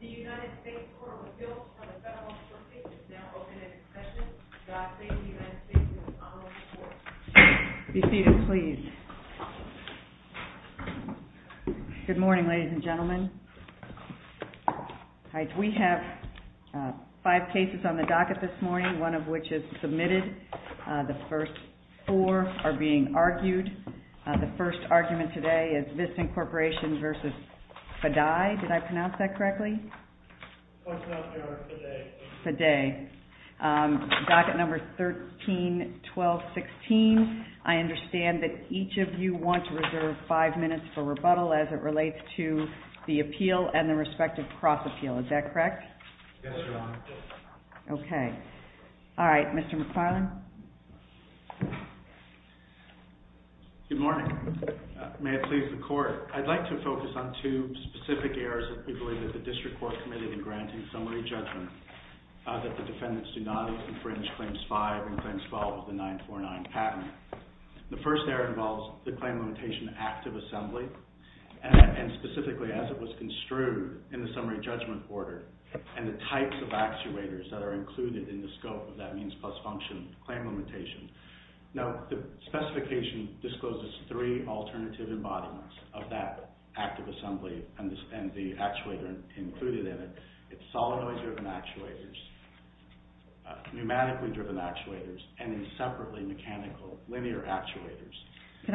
THE UNITED STATES COURT OF APPEAL FOR THE FEDERAL COURT CASE IS NOW OPEN AT EXPENSIVE, GOD SAVING UNITED STATES EMBASSY COURT. Be seated, please. Good morning, ladies and gentlemen. We have five cases on the docket this morning, one of which is submitted. The first four are being argued. The first argument today is VISTAN CORPORATION v. FADEI. Did I pronounce that correctly? FADEI. Docket number 13-12-16. I understand that each of you want to reserve five minutes for rebuttal as it relates to the appeal and the respective cross-appeal. Is that correct? Yes, Your Honor. Okay. All right, Mr. McFarland. Good morning. May it please the Court, I'd like to focus on two specific errors that we believe that the District Court committed in granting summary judgment that the defendants do not need to infringe Claims 5 and Claims 12 of the 949 Patent. The first error involves the Claim Limitation Act of Assembly, and specifically as it was construed in the summary judgment order, and the types of actuators that are included in the scope of that means-plus-function claim limitation. Now, the specification discloses three alternative embodiments of that Act of Assembly and the actuator included in it. It's solenoid-driven actuators, pneumatically-driven actuators, and separately mechanical linear actuators. Can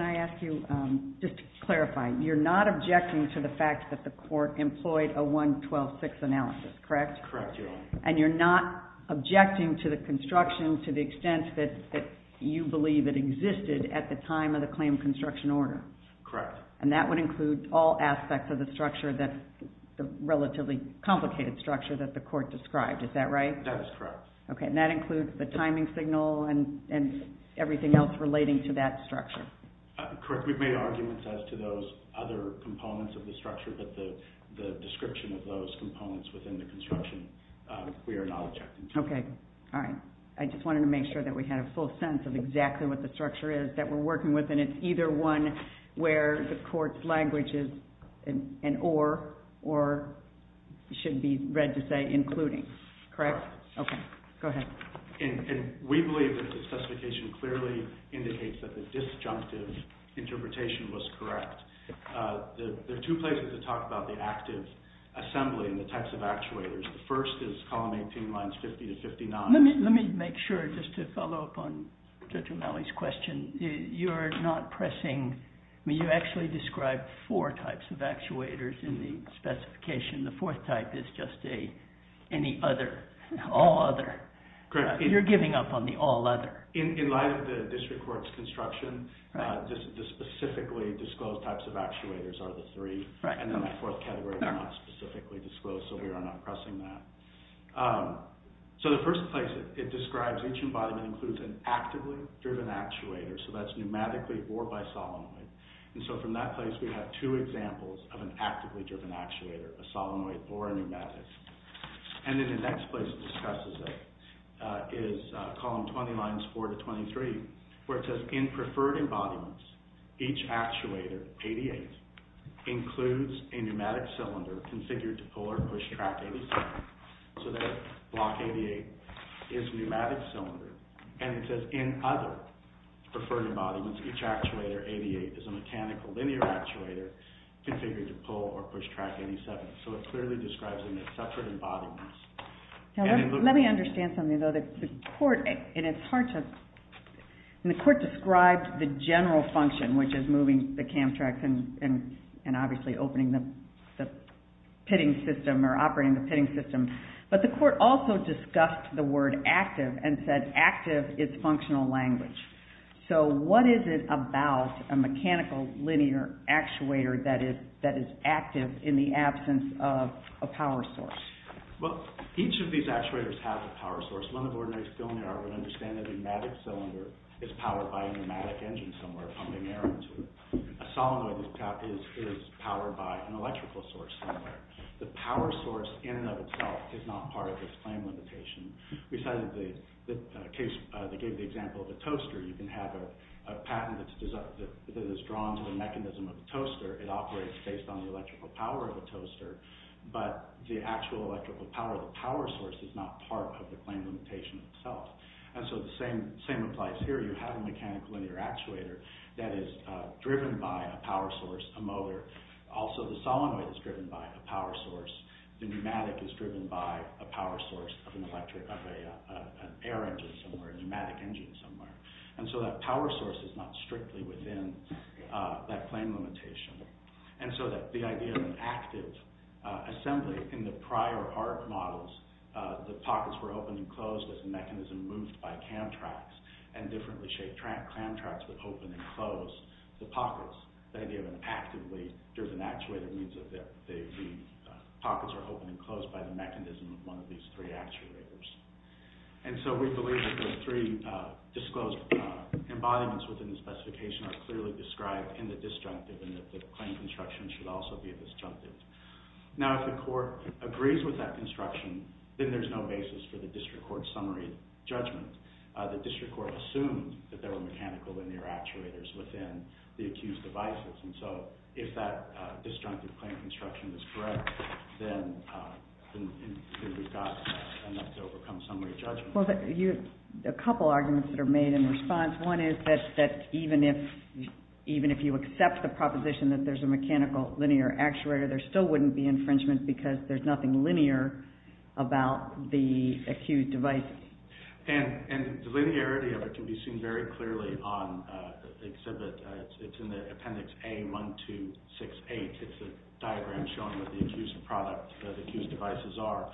I ask you, just to clarify, you're not objecting to the fact that the Court employed a 1-12-6 analysis, correct? Correct, Your Honor. And you're not objecting to the construction to the extent that you believe it existed at the time of the claim construction order? Correct. And that would include all aspects of the structure, the relatively complicated structure that the Court described, is that right? That is correct. Okay, and that includes the timing signal and everything else relating to that structure? Correct. We've made arguments as to those other components of the structure, but the description of those components within the construction, we are not objecting to. Okay, all right. I just wanted to make sure that we had a full sense of exactly what the structure is that we're working with, and it's either one where the Court's language is an or, or should be read to say including, correct? Okay, go ahead. And we believe that the specification clearly indicates that the disjunctive interpretation was correct. There are two places to talk about the active assembly and the types of actuators. The first is column 18, lines 50 to 59. Let me make sure, just to follow up on Judge O'Malley's question, you're not pressing, I mean you actually described four types of actuators in the specification. The fourth type is just a, any other, all other. You're giving up on the all other. In light of the District Court's construction, the specifically disclosed types of actuators are the three, and then that fourth category is not specifically disclosed, so we are not pressing that. So the first place it describes each embodiment includes an actively driven actuator, so that's pneumatically or by solenoid. And so from that place we have two examples of an actively driven actuator, a solenoid or a pneumatic. And then the next place it discusses it is column 20, lines 4 to 23, where it says in preferred embodiments, each actuator, 88, includes a pneumatic cylinder configured to pull or push track 87. So that block 88 is pneumatic cylinder. And it says in other preferred embodiments, each actuator 88 is a mechanical linear actuator configured to pull or push track 87. So it clearly describes them as separate embodiments. Now let me understand something though. The court, and it's hard to, and the court described the general function, which is moving the cam tracks and obviously opening the pitting system or operating the pitting system, but the court also discussed the word active and said active is functional language. So what is it about a mechanical linear actuator that is active in the absence of a power source? Well, each of these actuators have a power source. One of the ordinaries still in the art would understand that a pneumatic cylinder is powered by a pneumatic engine somewhere A solenoid is powered by an electrical source somewhere. The power source in and of itself is not part of this claim limitation. We cited the case, they gave the example of a toaster. You can have a patent that is drawn to the mechanism of the toaster. It operates based on the electrical power of the toaster, but the actual electrical power, the power source is not part of the claim limitation itself. And so the same applies here. You have a mechanical linear actuator that is driven by a power source, a motor. Also the solenoid is driven by a power source. The pneumatic is driven by a power source of an electric, of an air engine somewhere, a pneumatic engine somewhere. And so that power source is not strictly within that claim limitation. And so the idea of an active assembly in the prior art models, the pockets were opened and closed as the mechanism moved by cam tracks and differently shaped cam tracks would open and close the pockets. The idea of an actively driven actuator means that the pockets are open and closed by the mechanism of one of these three actuators. And so we believe that the three disclosed embodiments within the specification are clearly described in the disjunctive and that the claim construction should also be a disjunctive. Now if the court agrees with that construction, then there's no basis for the district court summary judgment. The district court assumed that there were mechanical linear actuators within the accused devices. And so if that disjunctive claim construction is correct, then we've got enough to overcome summary judgment. Well, you have a couple arguments that are made in response. One is that even if you accept the proposition that there's a mechanical linear actuator, there still wouldn't be infringement because there's nothing linear about the accused devices. And the linearity of it can be seen very clearly on the exhibit. It's in the appendix A1268. It's a diagram showing what the accused devices are.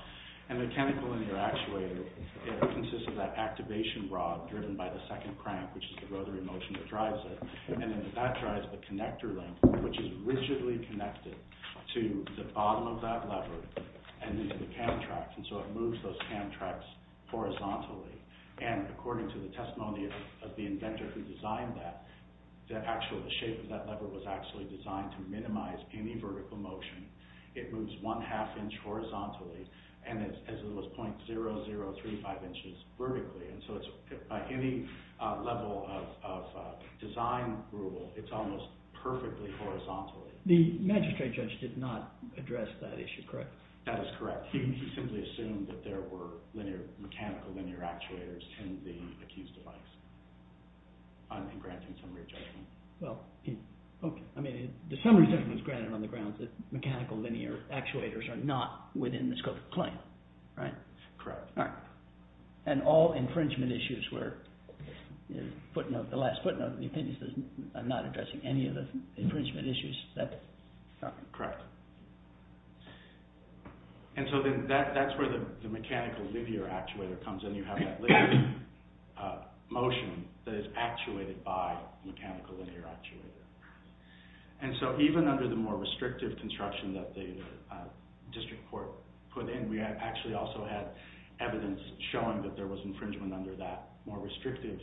And the mechanical linear actuator, it consists of that activation rod driven by the second crank, which is the rotary motion that drives it. And then that drives the connector link, which is rigidly connected to the bottom of that lever and into the cam tracks. And so it moves those cam tracks horizontally. And according to the testimony of the inventor who designed that, the shape of that lever was actually designed to minimize any vertical motion. It moves one half inch horizontally and as low as .0035 inches vertically. And so it's, by any level of design rule, it's almost perfectly horizontal. The magistrate judge did not address that issue, correct? That is correct. He simply assumed that there were mechanical linear actuators in the accused device in granting summary judgment. Well, I mean, the summary judgment is granted on the grounds that mechanical linear actuators are not within the scope of the claim, right? Correct. And all infringement issues were, footnote, the last footnote of the appendix says I'm not addressing any of the infringement issues. Correct. And so then that's where the mechanical linear actuator comes in. You have that linear motion that is actuated by mechanical linear actuator. And so even under the more restrictive construction that the district court put in, we actually also had evidence showing that there was infringement under that more restrictive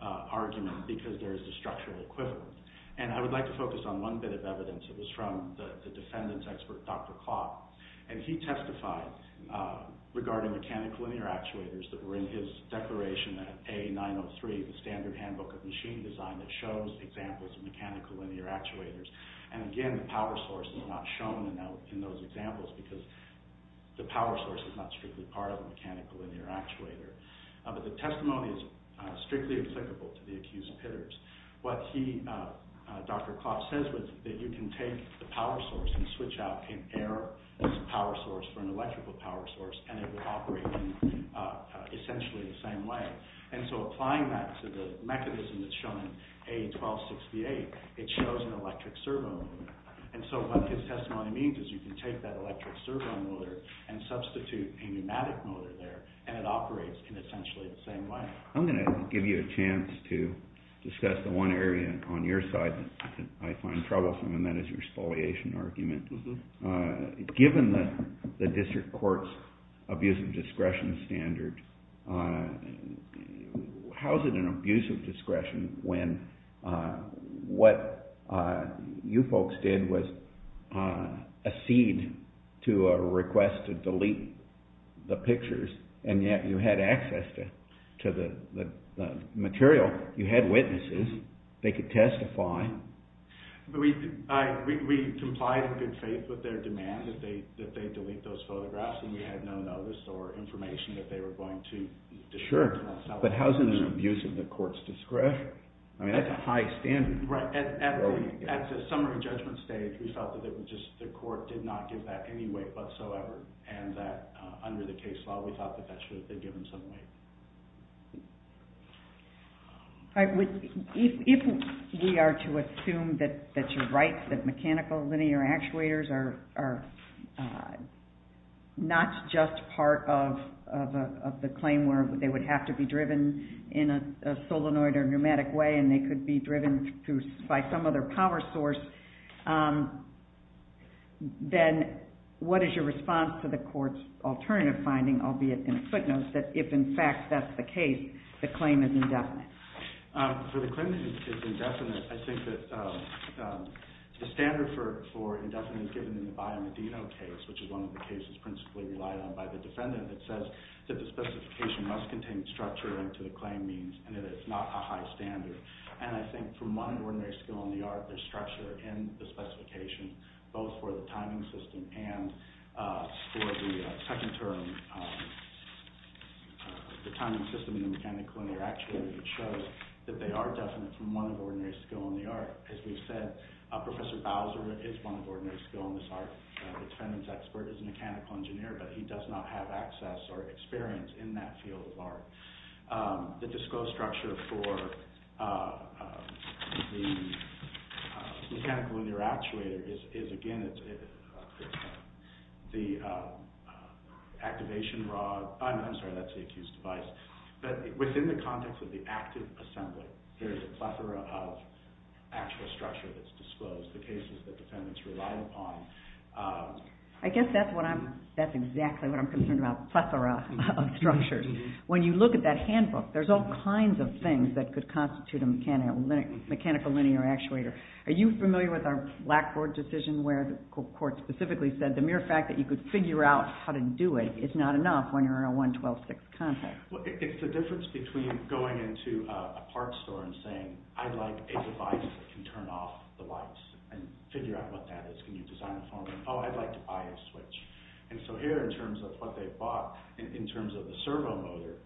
argument because there is a structural equivalent. And I would like to focus on one bit of evidence. It was from the defendant's expert, Dr. Klopp. And he testified regarding mechanical linear actuators that were in his declaration at A903, the standard handbook of machine design that shows examples of mechanical linear actuators. And again, the power source is not shown in those examples because the power source is not strictly part of the mechanical linear actuator. But the testimony is strictly applicable to the accused hitters. What Dr. Klopp says was that you can take the power source and switch out air as a power source for an electrical power source and it would operate in essentially the same way. And so applying that to the mechanism that's shown in A1268, it shows an electric servo motor. And so what his testimony means is you can take that electric servo motor and substitute a pneumatic motor there and it operates in essentially the same way. I'm going to give you a chance to discuss the one area on your side that I find troublesome and that is your spoliation argument. Given the district court's abuse of discretion standard, how is it an abuse of discretion when what you folks did was accede to a request to delete the pictures and yet you had access to the material, you had witnesses, they could testify. We complied in good faith with their demand that they delete those photographs and we had no notice or information that they were going to describe. Sure, but how is it an abuse of the court's discretion? I mean that's a high standard. At the summary judgment stage we felt that the court did not give that any weight whatsoever and that under the case law we thought that they should have given some weight. If we are to assume that you're right, that mechanical linear actuators are not just part of the claim where they would have to be driven in a solenoid or pneumatic way and they could be driven by some other power source, then what is your response to the court's alternative finding, albeit in a footnote, that if in fact that's the case, the claim is indefinite? For the claim that it's indefinite, I think that the standard for indefinite is given in the Bio Medina case, which is one of the cases principally relied on by the defendant. It says that the specification must contain structure to the claim means and that it's not a high standard. And I think from one ordinary skill in the art, there's structure in the specification, both for the timing system and for the second term, the timing system in the mechanical linear actuator that shows that they are definite from one ordinary skill in the art. As we've said, Professor Bowser is one of ordinary skill in this art. The defendant's expert is a mechanical engineer, but he does not have access or experience in that field of art. The disclosed structure for the mechanical linear actuator is, again, the activation rod. I'm sorry, that's the accused device. But within the context of the active assembly, there's a plethora of actual structure that's disclosed, the cases the defendants relied upon. I guess that's exactly what I'm concerned about, a plethora of structure. When you look at that handbook, there's all kinds of things that could constitute a mechanical linear actuator. Are you familiar with our Blackboard decision where the court specifically said the mere fact that you could figure out how to do it is not enough when you're in a 112-6 context? It's the difference between going into a parts store and saying, I'd like a device that can turn off the lights and figure out what that is. Can you design it for me? Oh, I'd like to buy a switch. Here, in terms of what they bought, in terms of the servo motor,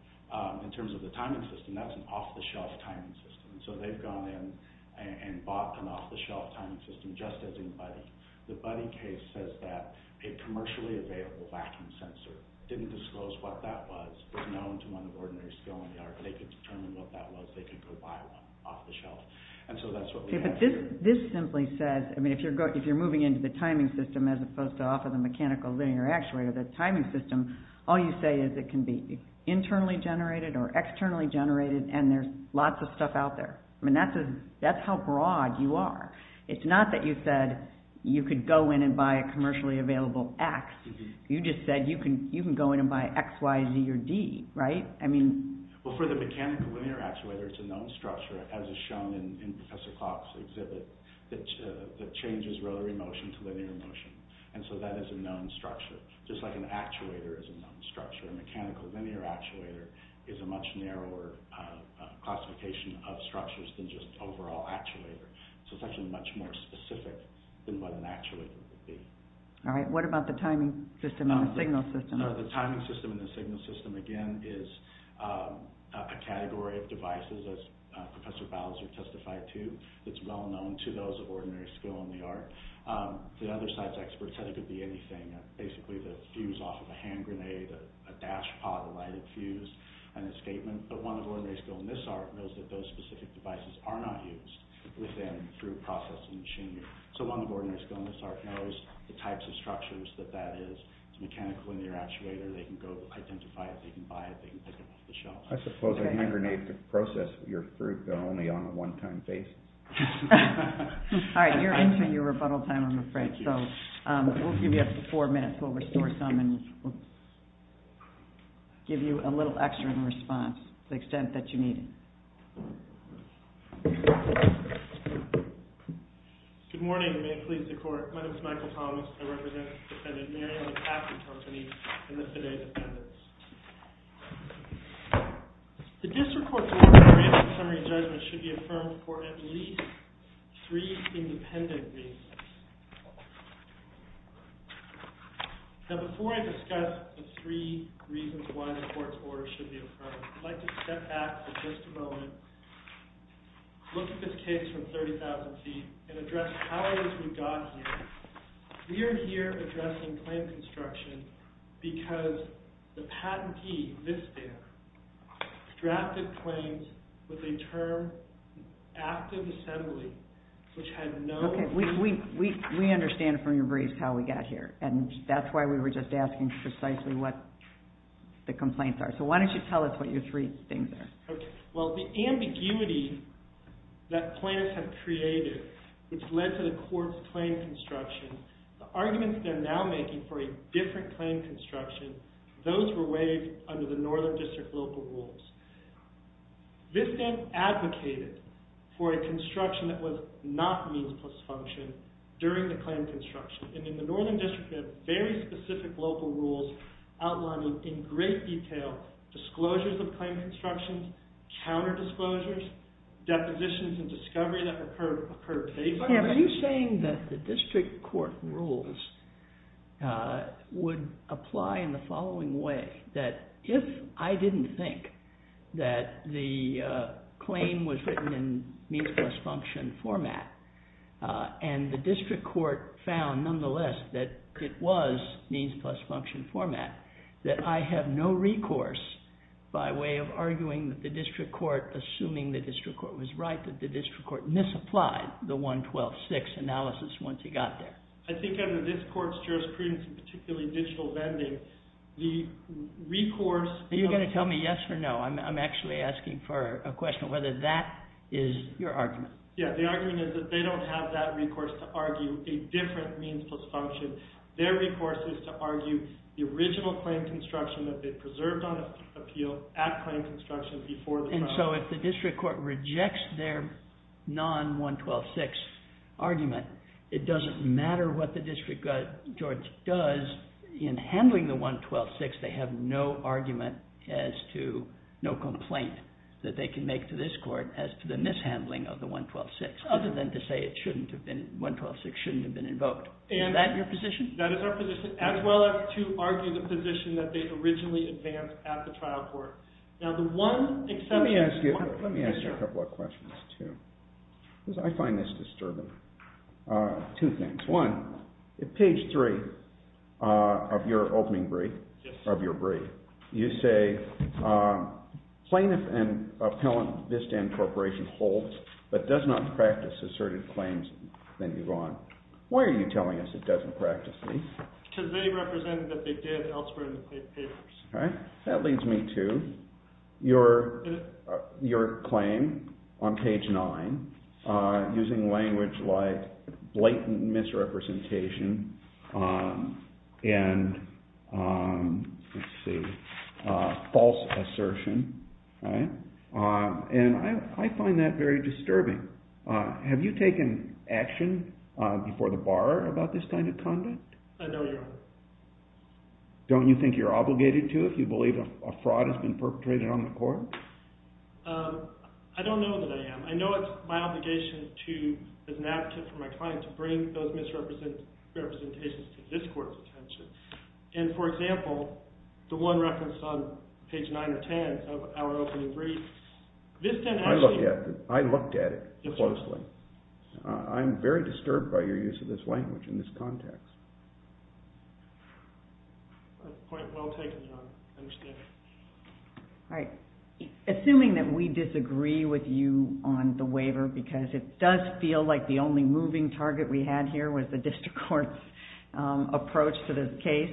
in terms of the timing system, that's an off-the-shelf timing system. They've gone in and bought an off-the-shelf timing system just as in Buddy. The Buddy case says that a commercially available vacuum sensor didn't disclose what that was. It's known to one of ordinary skill in the art, but they could determine what that was. They could go buy one off-the-shelf. That's what we have here. If you're moving into the timing system as opposed to off of the mechanical linear actuator, the timing system, all you say is it can be internally generated or externally generated, and there's lots of stuff out there. That's how broad you are. It's not that you said you could go in and buy a commercially available X. You just said you can go in and buy X, Y, Z, or D. For the mechanical linear actuator, it's a known structure, as is shown in Professor Klopp's exhibit, that changes rotary motion to linear motion. That is a known structure. Just like an actuator is a known structure, a mechanical linear actuator is a much narrower classification of structures than just overall actuator. It's actually much more specific than what an actuator would be. What about the timing system and the signal system? The timing system and the signal system, again, is a category of devices, as Professor Bowser testified to, that's well known to those of ordinary skill in the art. The other side's experts said it could be anything, basically the fuse off of a hand grenade, a dashpot, a lighted fuse, an escapement. But one of ordinary skill in this art knows that those specific devices are not used within, through processing machinery. So one of ordinary skill in this art knows the types of structures that that is, it's a mechanical linear actuator, they can go identify it, they can buy it, they can pick it off the shelf. I suppose a hand grenade could process your fruit, but only on a one-time basis. All right, you're entering your rebuttal time, I'm afraid, so we'll give you up to four minutes, we'll restore some and give you a little extra in response, to the extent that you need it. Good morning, may it please the Court. My name is Michael Thomas. I represent Defendant Marion McAfee Company and the today's defendants. The District Court's order in the recent summary judgment should be affirmed for at least three independent reasons. Now before I discuss the three reasons why the Court's order should be affirmed, I'd like to step back for just a moment, look at this case from 30,000 feet, and address how it is we got here. We are here addressing plant construction because the patentee, this man, drafted claims with a term, active assembly, which had no... Okay, we understand from your briefs how we got here, and that's why we were just asking precisely what the complaints are. So why don't you tell us what your three things are. Okay, well the ambiguity that plaintiffs have created, which led to the Court's claim construction, the arguments they're now making for a different claim construction, those were waived under the Northern District local rules. This man advocated for a construction that was not means plus function during the claim construction, and in the Northern District we have very specific local rules outlining in great detail disclosures of claim construction, counter-disclosures, depositions and discovery that occurred based on... Now are you saying that the District Court rules would apply in the following way, that if I didn't think that the claim was written in means plus function format, and the District Court found nonetheless that it was means plus function format, that I have no recourse by way of arguing that the District Court, assuming the District Court was right, that the District Court misapplied the 112.6 analysis once he got there? I think under this Court's jurisprudence, particularly digital vending, the recourse... Are you going to tell me yes or no? I'm actually asking for a question of whether that is your argument. Yeah, the argument is that they don't have that recourse to argue a different means plus function. Their recourse is to argue the original claim construction that they preserved on appeal at claim construction before the trial. And so if the District Court rejects their non-112.6 argument, it doesn't matter what the District Court does in handling the 112.6, they have no argument as to, no complaint that they can make to this Court as to the mishandling of the 112.6, other than to say it shouldn't have been... That is our position, as well as to argue the position that they originally advanced at the trial court. Now, the one exception... Let me ask you a couple of questions, too, because I find this disturbing. Two things. One, at page three of your opening brief, of your brief, you say plaintiff and appellant Vistan Corporation holds but does not practice asserted claims in Iran. Why are you telling us it doesn't practice these? Because they represented that they did elsewhere in the papers. That leads me to your claim on page nine, using language like blatant misrepresentation and false assertion, and I find that very disturbing. Have you taken action before the borrower about this kind of conduct? I know you haven't. Don't you think you're obligated to if you believe a fraud has been perpetrated on the court? I don't know that I am. I know it's my obligation to, as an advocate for my client, to bring those misrepresentations to this Court's attention. And, for example, the one referenced on page nine or ten of our opening brief, I looked at it closely. I'm very disturbed by your use of this language in this context. That's quite well taken, John. I understand it. All right. Assuming that we disagree with you on the waiver, because it does feel like the only moving target we had here was the District Court's approach to this case,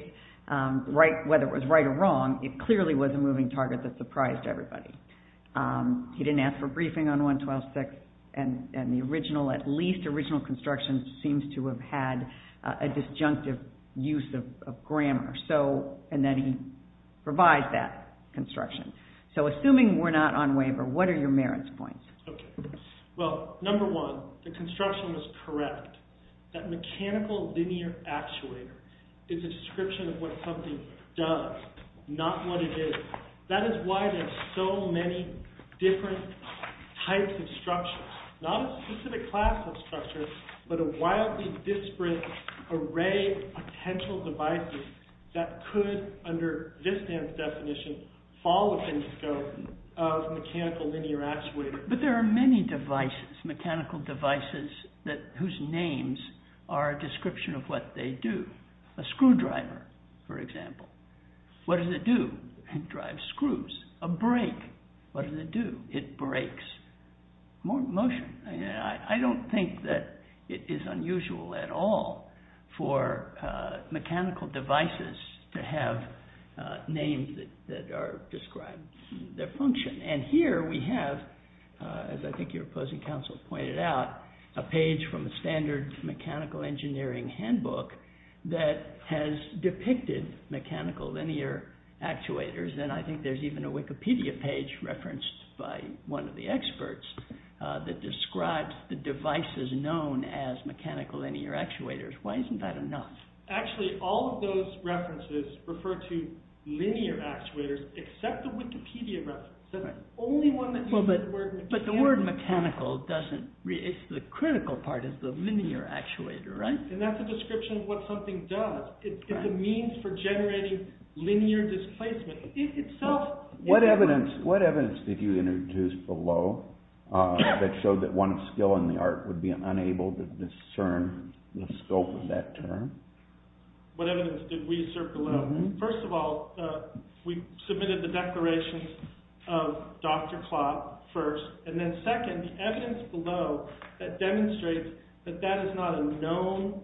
whether it was right or wrong, it clearly was a moving target that surprised everybody. He didn't ask for a briefing on 112-6, and the at least original construction seems to have had a disjunctive use of grammar. And then he revised that construction. So, assuming we're not on waiver, what are your merits points? Well, number one, the construction was correct. That mechanical linear actuator is a description of what something does, not what it is. That is why there are so many different types of structures. Not a specific classical structure, but a wildly disparate array of potential devices that could, under this definition, fall within the scope of a mechanical linear actuator. But there are many devices, mechanical devices, whose names are a description of what they do. A screwdriver, for example. What does it do? It drives screws. A brake. What does it do? It brakes motion. I don't think that it is unusual at all for mechanical devices to have names that describe their function. And here we have, as I think your opposing counsel pointed out, a page from a standard mechanical engineering handbook that has depicted mechanical linear actuators. And I think there's even a Wikipedia page referenced by one of the experts that describes the devices known as mechanical linear actuators. Why isn't that enough? Actually, all of those references refer to linear actuators, except the Wikipedia reference. But the word mechanical, the critical part is the linear actuator, right? And that's a description of what something does. It's a means for generating linear displacement. What evidence did you introduce below that showed that one skill in the art would be unable to discern the scope of that term? What evidence did we assert below? First of all, we submitted the declaration of Dr. Klopp first. And then second, the evidence below that demonstrates that that is not a known,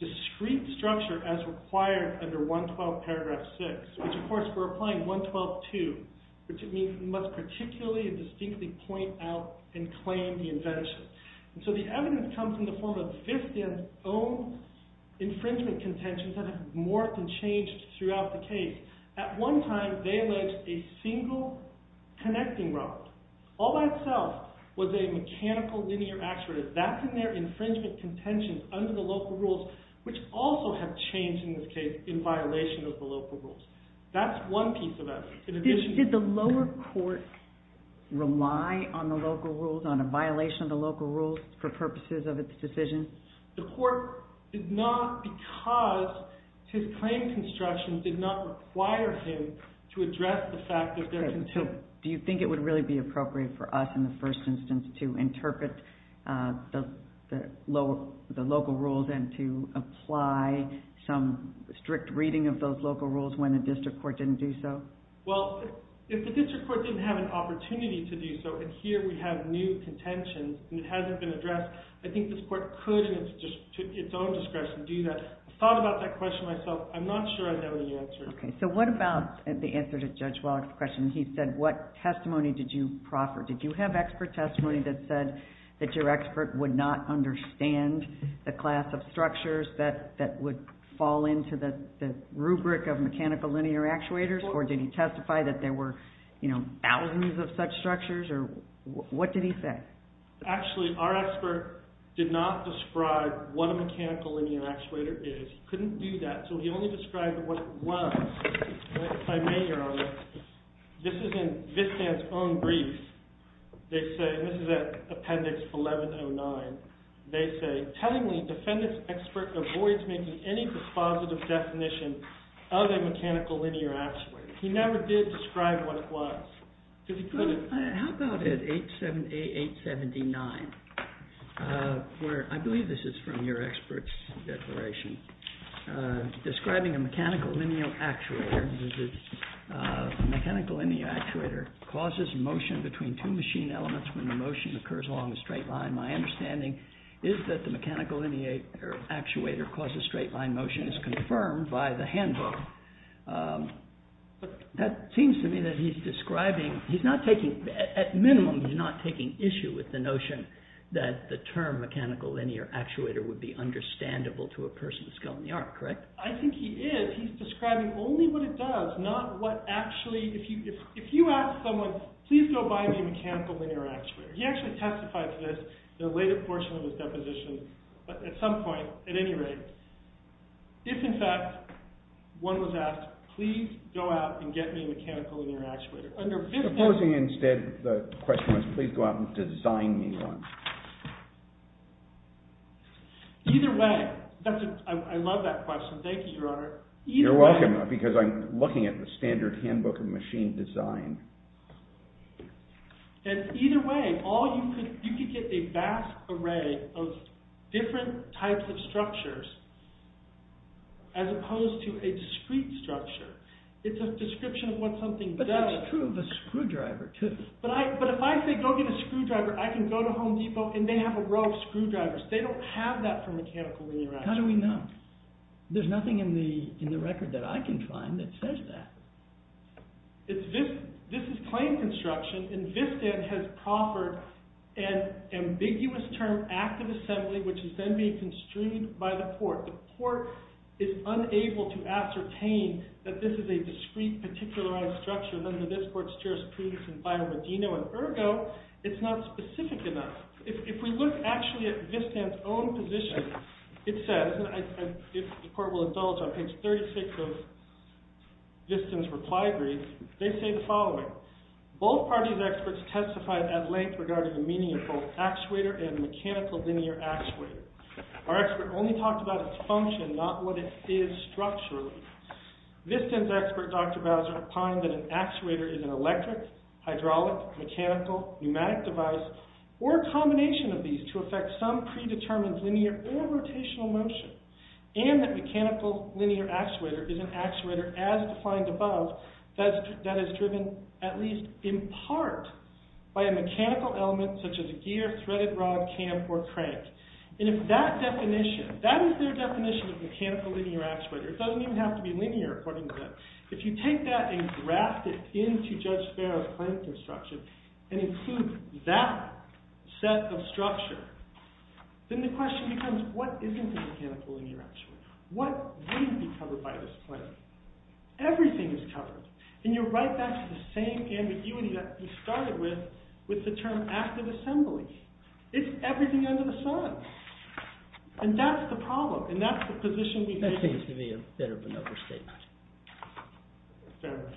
discreet structure as required under 112 paragraph 6. Which, of course, we're applying 112.2, which means we must particularly and distinctly point out and claim the invention. So the evidence comes in the form of FISTA's own infringement contentions that have morphed and changed throughout the case. At one time, they alleged a single connecting rod, all by itself, was a mechanical linear actuator. That's in their infringement contentions under the local rules, which also have changed in this case in violation of the local rules. That's one piece of evidence. Did the lower court rely on the local rules, on a violation of the local rules, for purposes of its decision? The court did not, because his claim construction did not require him to address the fact that there can still- Do you think it would really be appropriate for us, in the first instance, to interpret the local rules and to apply some strict reading of those local rules when the district court didn't do so? Well, if the district court didn't have an opportunity to do so, and here we have new contentions and it hasn't been addressed, I think this court could, to its own discretion, do that. I've thought about that question myself. I'm not sure I know the answer. Okay. So what about the answer to Judge Wallach's question? He said, what testimony did you proffer? Did you have expert testimony that said that your expert would not understand the class of structures that would fall into the rubric of mechanical linear actuators? Or did he testify that there were thousands of such structures? What did he say? Actually, our expert did not describe what a mechanical linear actuator is. He couldn't do that, so he only described what it was. If I may, Your Honor, this is in Vistan's own brief. This is at Appendix 1109. They say, tellingly, defendant's expert avoids making any dispositive definition of a mechanical linear actuator. He never did describe what it was. How about at 878-879? I believe this is from your expert's declaration. Describing a mechanical linear actuator causes motion between two machine elements when the motion occurs along a straight line. My understanding is that the mechanical linear actuator causes straight line motion, as confirmed by the handbook. That seems to me that he's describing... At minimum, he's not taking issue with the notion that the term mechanical linear actuator would be understandable to a person with skill in the art, correct? I think he is. He's describing only what it does, not what actually... If you ask someone, please go buy me a mechanical linear actuator. He actually testified to this in a later portion of his deposition, at some point, at any rate. If, in fact, one was asked, please go out and get me a mechanical linear actuator. Supposing, instead, the question was, please go out and design me one. Either way... I love that question. Thank you, Your Honor. You're welcome, because I'm looking at the standard handbook of machine design. Either way, you could get a vast array of different types of structures, as opposed to a discrete structure. It's a description of what something does. But that's true of a screwdriver, too. But if I say, go get a screwdriver, I can go to Home Depot and they have a row of screwdrivers. They don't have that for mechanical linear actuators. How do we know? There's nothing in the record that I can find that says that. This is claim construction, and VISTAN has proffered an ambiguous term, active assembly, which is then being construed by the court. The court is unable to ascertain that this is a discrete, particularized structure. None of this court's jurisprudence in Biodino, and ergo, it's not specific enough. If we look, actually, at VISTAN's own position, it says, the court will acknowledge on page 36 of VISTAN's reply brief, they say the following. Both parties' experts testified at length regarding the meaning of both actuator and mechanical linear actuator. Our expert only talked about its function, not what it is structurally. VISTAN's expert, Dr. Bowser, opined that an actuator is an electric, hydraulic, mechanical, pneumatic device, or a combination of these to affect some predetermined linear or rotational motion, and that mechanical linear actuator is an actuator as defined above, that is driven, at least in part, by a mechanical element such as a gear, threaded rod, cam, or crank. And if that definition, that is their definition of mechanical linear actuator. It doesn't even have to be linear, according to them. If you take that and draft it into Judge Sparrow's claim construction, and include that set of structure, then the question becomes, what isn't a mechanical linear actuator? What would be covered by this claim? Everything is covered. And you're right back to the same ambiguity that we started with, with the term active assembly. It's everything under the sun. That seems to be a bit of an overstatement.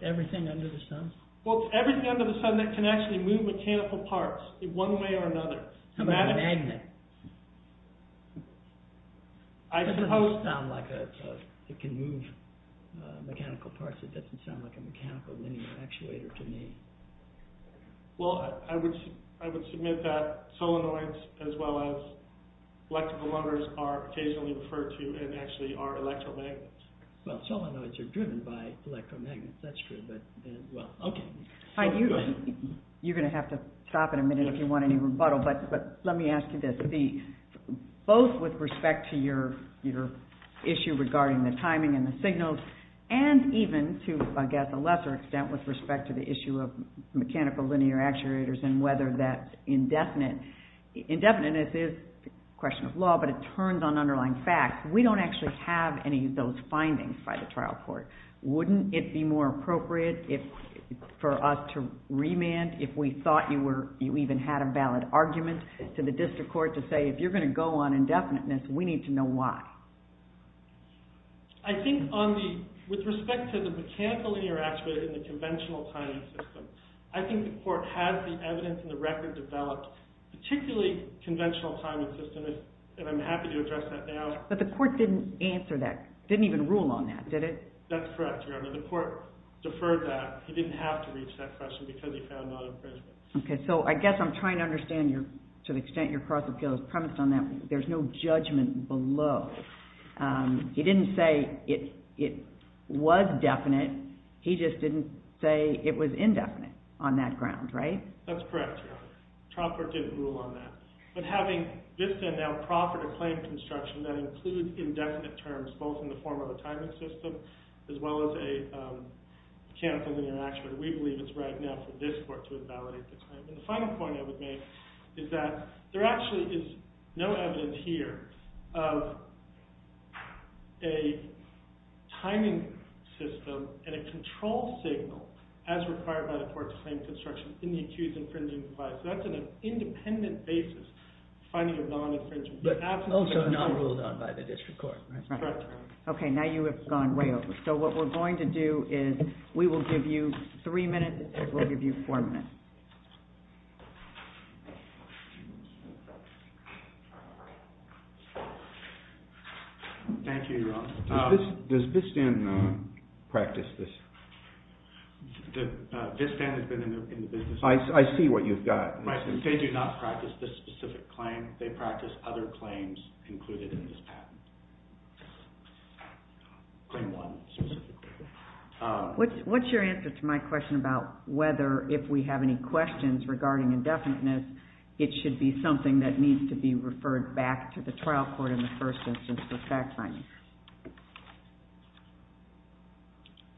Everything under the sun? Well, it's everything under the sun that can actually move mechanical parts in one way or another. How about a magnet? It doesn't sound like it can move mechanical parts. It doesn't sound like a mechanical linear actuator to me. Well, I would submit that solenoids, as well as electrical motors, are occasionally referred to and actually are electromagnets. Well, solenoids are driven by electromagnets, that's true. You're going to have to stop in a minute if you want any rebuttal, but let me ask you this. Both with respect to your issue regarding the timing and the signals, and even to, I guess, a lesser extent with respect to the issue of mechanical linear actuators and whether that's indefinite. Indefinite is a question of law, but it turns on underlying facts. We don't actually have any of those findings by the trial court. Wouldn't it be more appropriate for us to remand if we thought you even had a valid argument to the district court to say, if you're going to go on indefiniteness, we need to know why? I think with respect to the mechanical linear actuator in the conventional timing system, I think the court has the evidence and the record developed, particularly conventional timing systems, and I'm happy to address that now. But the court didn't answer that, didn't even rule on that, did it? That's correct, Your Honor. The court deferred that. He didn't have to reach that question because he found non-imperishable. Okay, so I guess I'm trying to understand to the extent your cross appeal is premised on that. There's no judgment below. He didn't say it was definite. He just didn't say it was indefinite on that ground, right? That's correct, Your Honor. The trial court didn't rule on that. But having VISTA now proffer to claim construction that includes indefinite terms, both in the form of a timing system as well as a canceled linear actuator, we believe it's right now for this court to invalidate this claim. And the final point I would make is that there actually is no evidence here of a timing system and a control signal as required by the court to claim construction in the accused infringing device. So that's an independent basis, finding a non-infringing device. But also not ruled on by the district court, right? That's correct, Your Honor. Okay, now you have gone way over. So what we're going to do is we will give you three minutes and we'll give you four minutes. Thank you, Your Honor. Does VISTAN practice this? VISTAN has been in the business. I see what you've got. They do not practice this specific claim. They practice other claims included in this patent. Claim one, specifically. What's your answer to my question about whether if we have any questions regarding indefiniteness, it should be something that needs to be referred back to the trial court in the first instance for fact-finding?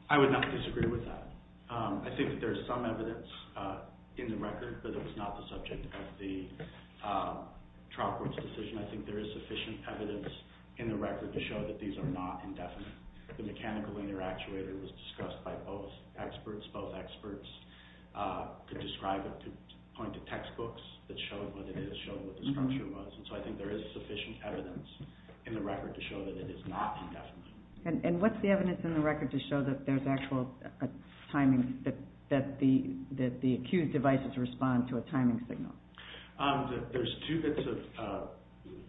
I would not disagree with that. I think that there is some evidence in the record that it was not the subject of the trial court's decision. I think there is sufficient evidence in the record to show that these are not indefinite. The mechanical linear actuator was discussed by both experts. Both experts could describe it, could point to textbooks that showed what it is, showed what the structure was. And so I think there is sufficient evidence in the record to show that it is not indefinite. And what's the evidence in the record to show that there's actual timing, that the accused devices respond to a timing signal? There's two bits of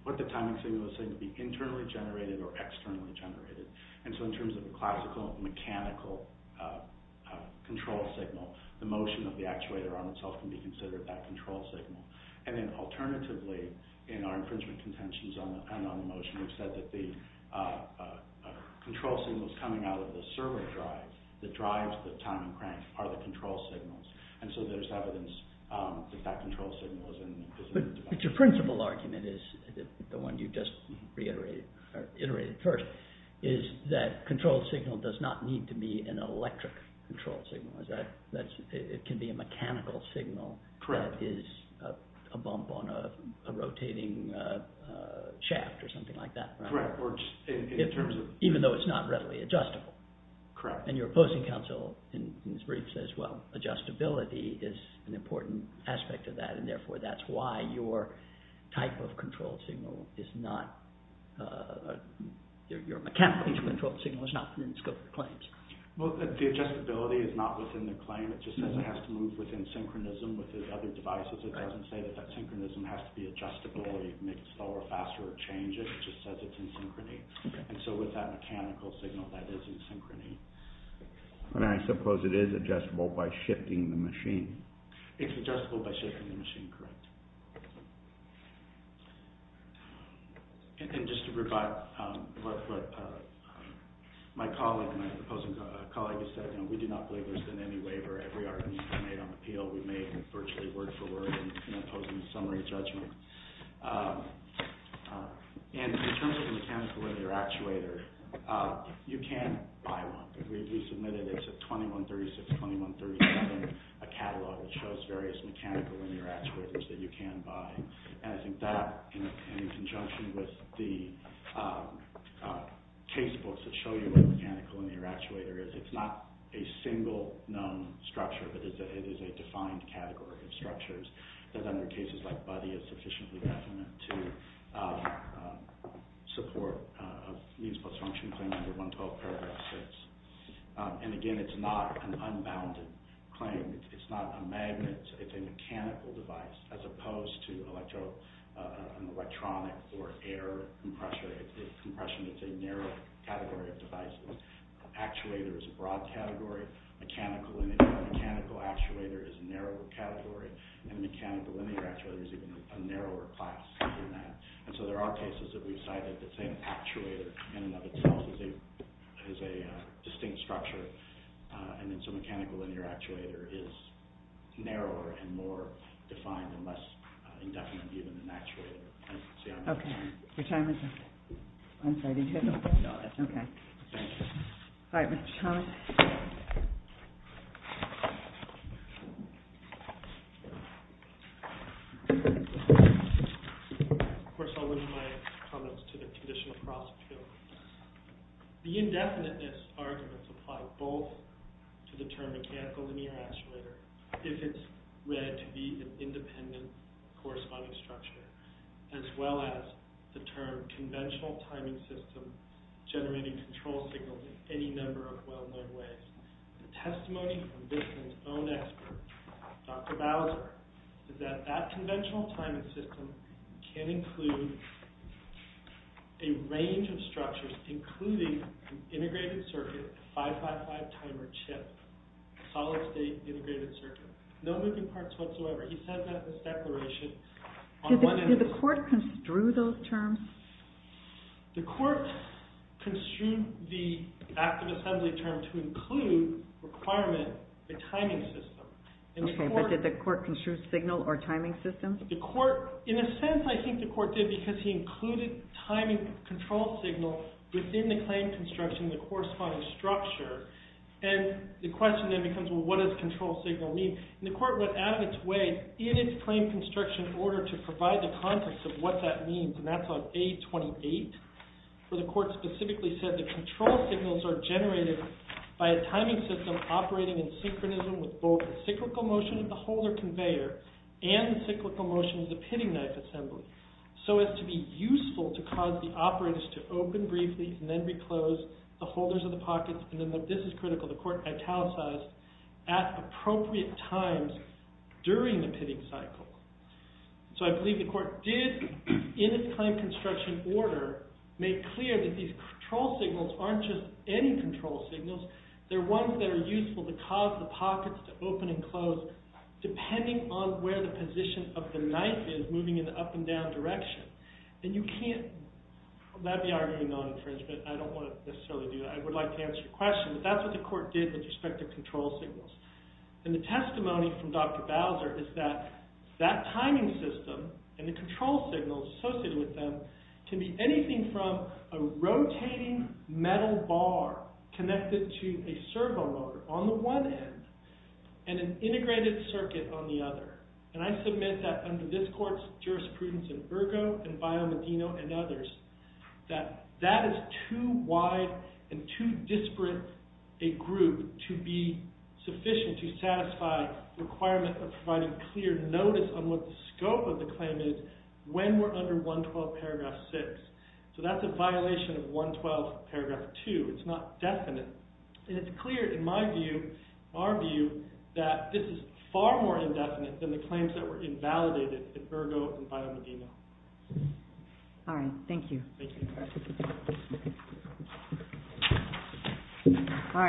what the timing signal is saying to be internally generated or externally generated. And so in terms of a classical mechanical control signal, the motion of the actuator on itself can be considered that control signal. And then alternatively, in our infringement contentions on the motion, we've said that the control signal is coming out of the servo drive. The drive, the timing crank, are the control signals. And so there's evidence that that control signal is indefinite. But your principal argument is, the one you just reiterated or iterated first, is that control signal does not need to be an electric control signal. It can be a mechanical signal that is a bump on a rotating shaft or something like that. Correct. Even though it's not readily adjustable. Correct. And your opposing counsel in his brief says, well, adjustability is an important aspect of that. And therefore, that's why your type of control signal is not – your mechanical control signal is not within the scope of the claims. Well, the adjustability is not within the claim. It just says it has to move within synchronism with the other devices. It doesn't say that that synchronism has to be adjustable or you can make it slower, faster, or change it. It just says it's in synchrony. And so with that mechanical signal, that is in synchrony. And I suppose it is adjustable by shifting the machine. It's adjustable by shifting the machine. Correct. And just to revive what my colleague and my opposing colleague has said, we do not believe there's been any waiver. Every argument we've made on the appeal we've made virtually word for word in opposing the summary judgment. And in terms of the mechanical linear actuator, you can buy one. We submitted – it's a 2136, 2137 catalog that shows various mechanical linear actuators that you can buy. And I think that, in conjunction with the case books that show you what a mechanical linear actuator is, it's not a single known structure. But it is a defined category of structures that under cases like Buddy is sufficiently definite to support a means plus function claim under 112 paragraph 6. And again, it's not an unbounded claim. It's not a magnet. It's a mechanical device as opposed to an electronic or air compressor. It's a compression. It's a narrow category of devices. Actuator is a broad category. Mechanical linear or mechanical actuator is a narrower category. And mechanical linear actuator is even a narrower class than that. And so there are cases that we've cited that say an actuator in and of itself is a distinct structure. And it's a mechanical linear actuator is narrower and more defined and less indefinite even than actuator. Okay. Your time is up. I'm sorry. Okay. All right. Mr. Thomas. Of course, I'll leave my comments to the conditional prosecutor. The indefiniteness arguments apply both to the term mechanical linear actuator if it's read to be an independent corresponding structure, as well as the term conventional timing system generating control signals in any number of well-known ways. The testimony from this man's own expert, Dr. Bowser, is that that conventional timing system can include a range of structures, including an integrated circuit, 555 timer chip, solid-state integrated circuit. No moving parts whatsoever. He said that in his declaration. Did the court construe those terms? The court construed the active assembly term to include requirement, the timing system. Okay. But did the court construe signal or timing system? In a sense, I think the court did because he included timing control signal within the claim construction, the corresponding structure. And the question then becomes, well, what does control signal mean? And the court went out of its way in its claim construction order to provide the context of what that means. And that's on A28, where the court specifically said that control signals are generated by a timing system operating in synchronism with both the cyclical motion of the holder conveyor and the cyclical motion of the pinning knife assembly, so as to be useful to cause the operators to open briefly and then reclose the holders of the pockets. And then this is critical. The court italicized at appropriate times during the pitting cycle. So I believe the court did, in its claim construction order, make clear that these control signals aren't just any control signals. They're ones that are useful to cause the pockets to open and close depending on where the position of the knife is moving in the up and down direction. And you can't—that'd be arguing non-infringement. I don't want to necessarily do that. I would like to answer your question. But that's what the court did with respect to control signals. And the testimony from Dr. Bowser is that that timing system and the control signals associated with them can be anything from a rotating metal bar connected to a servo motor on the one end and an integrated circuit on the other. And I submit that under this court's jurisprudence in Ergo and Bio Medino and others, that that is too wide and too disparate a group to be sufficient to satisfy the requirement of providing clear notice on what the scope of the claim is when we're under 112 paragraph 6. So that's a violation of 112 paragraph 2. It's not definite. And it's clear in my view, our view, that this is far more indefinite than the claims that were invalidated in Ergo and Bio Medino. All right. Thank you. Thank you.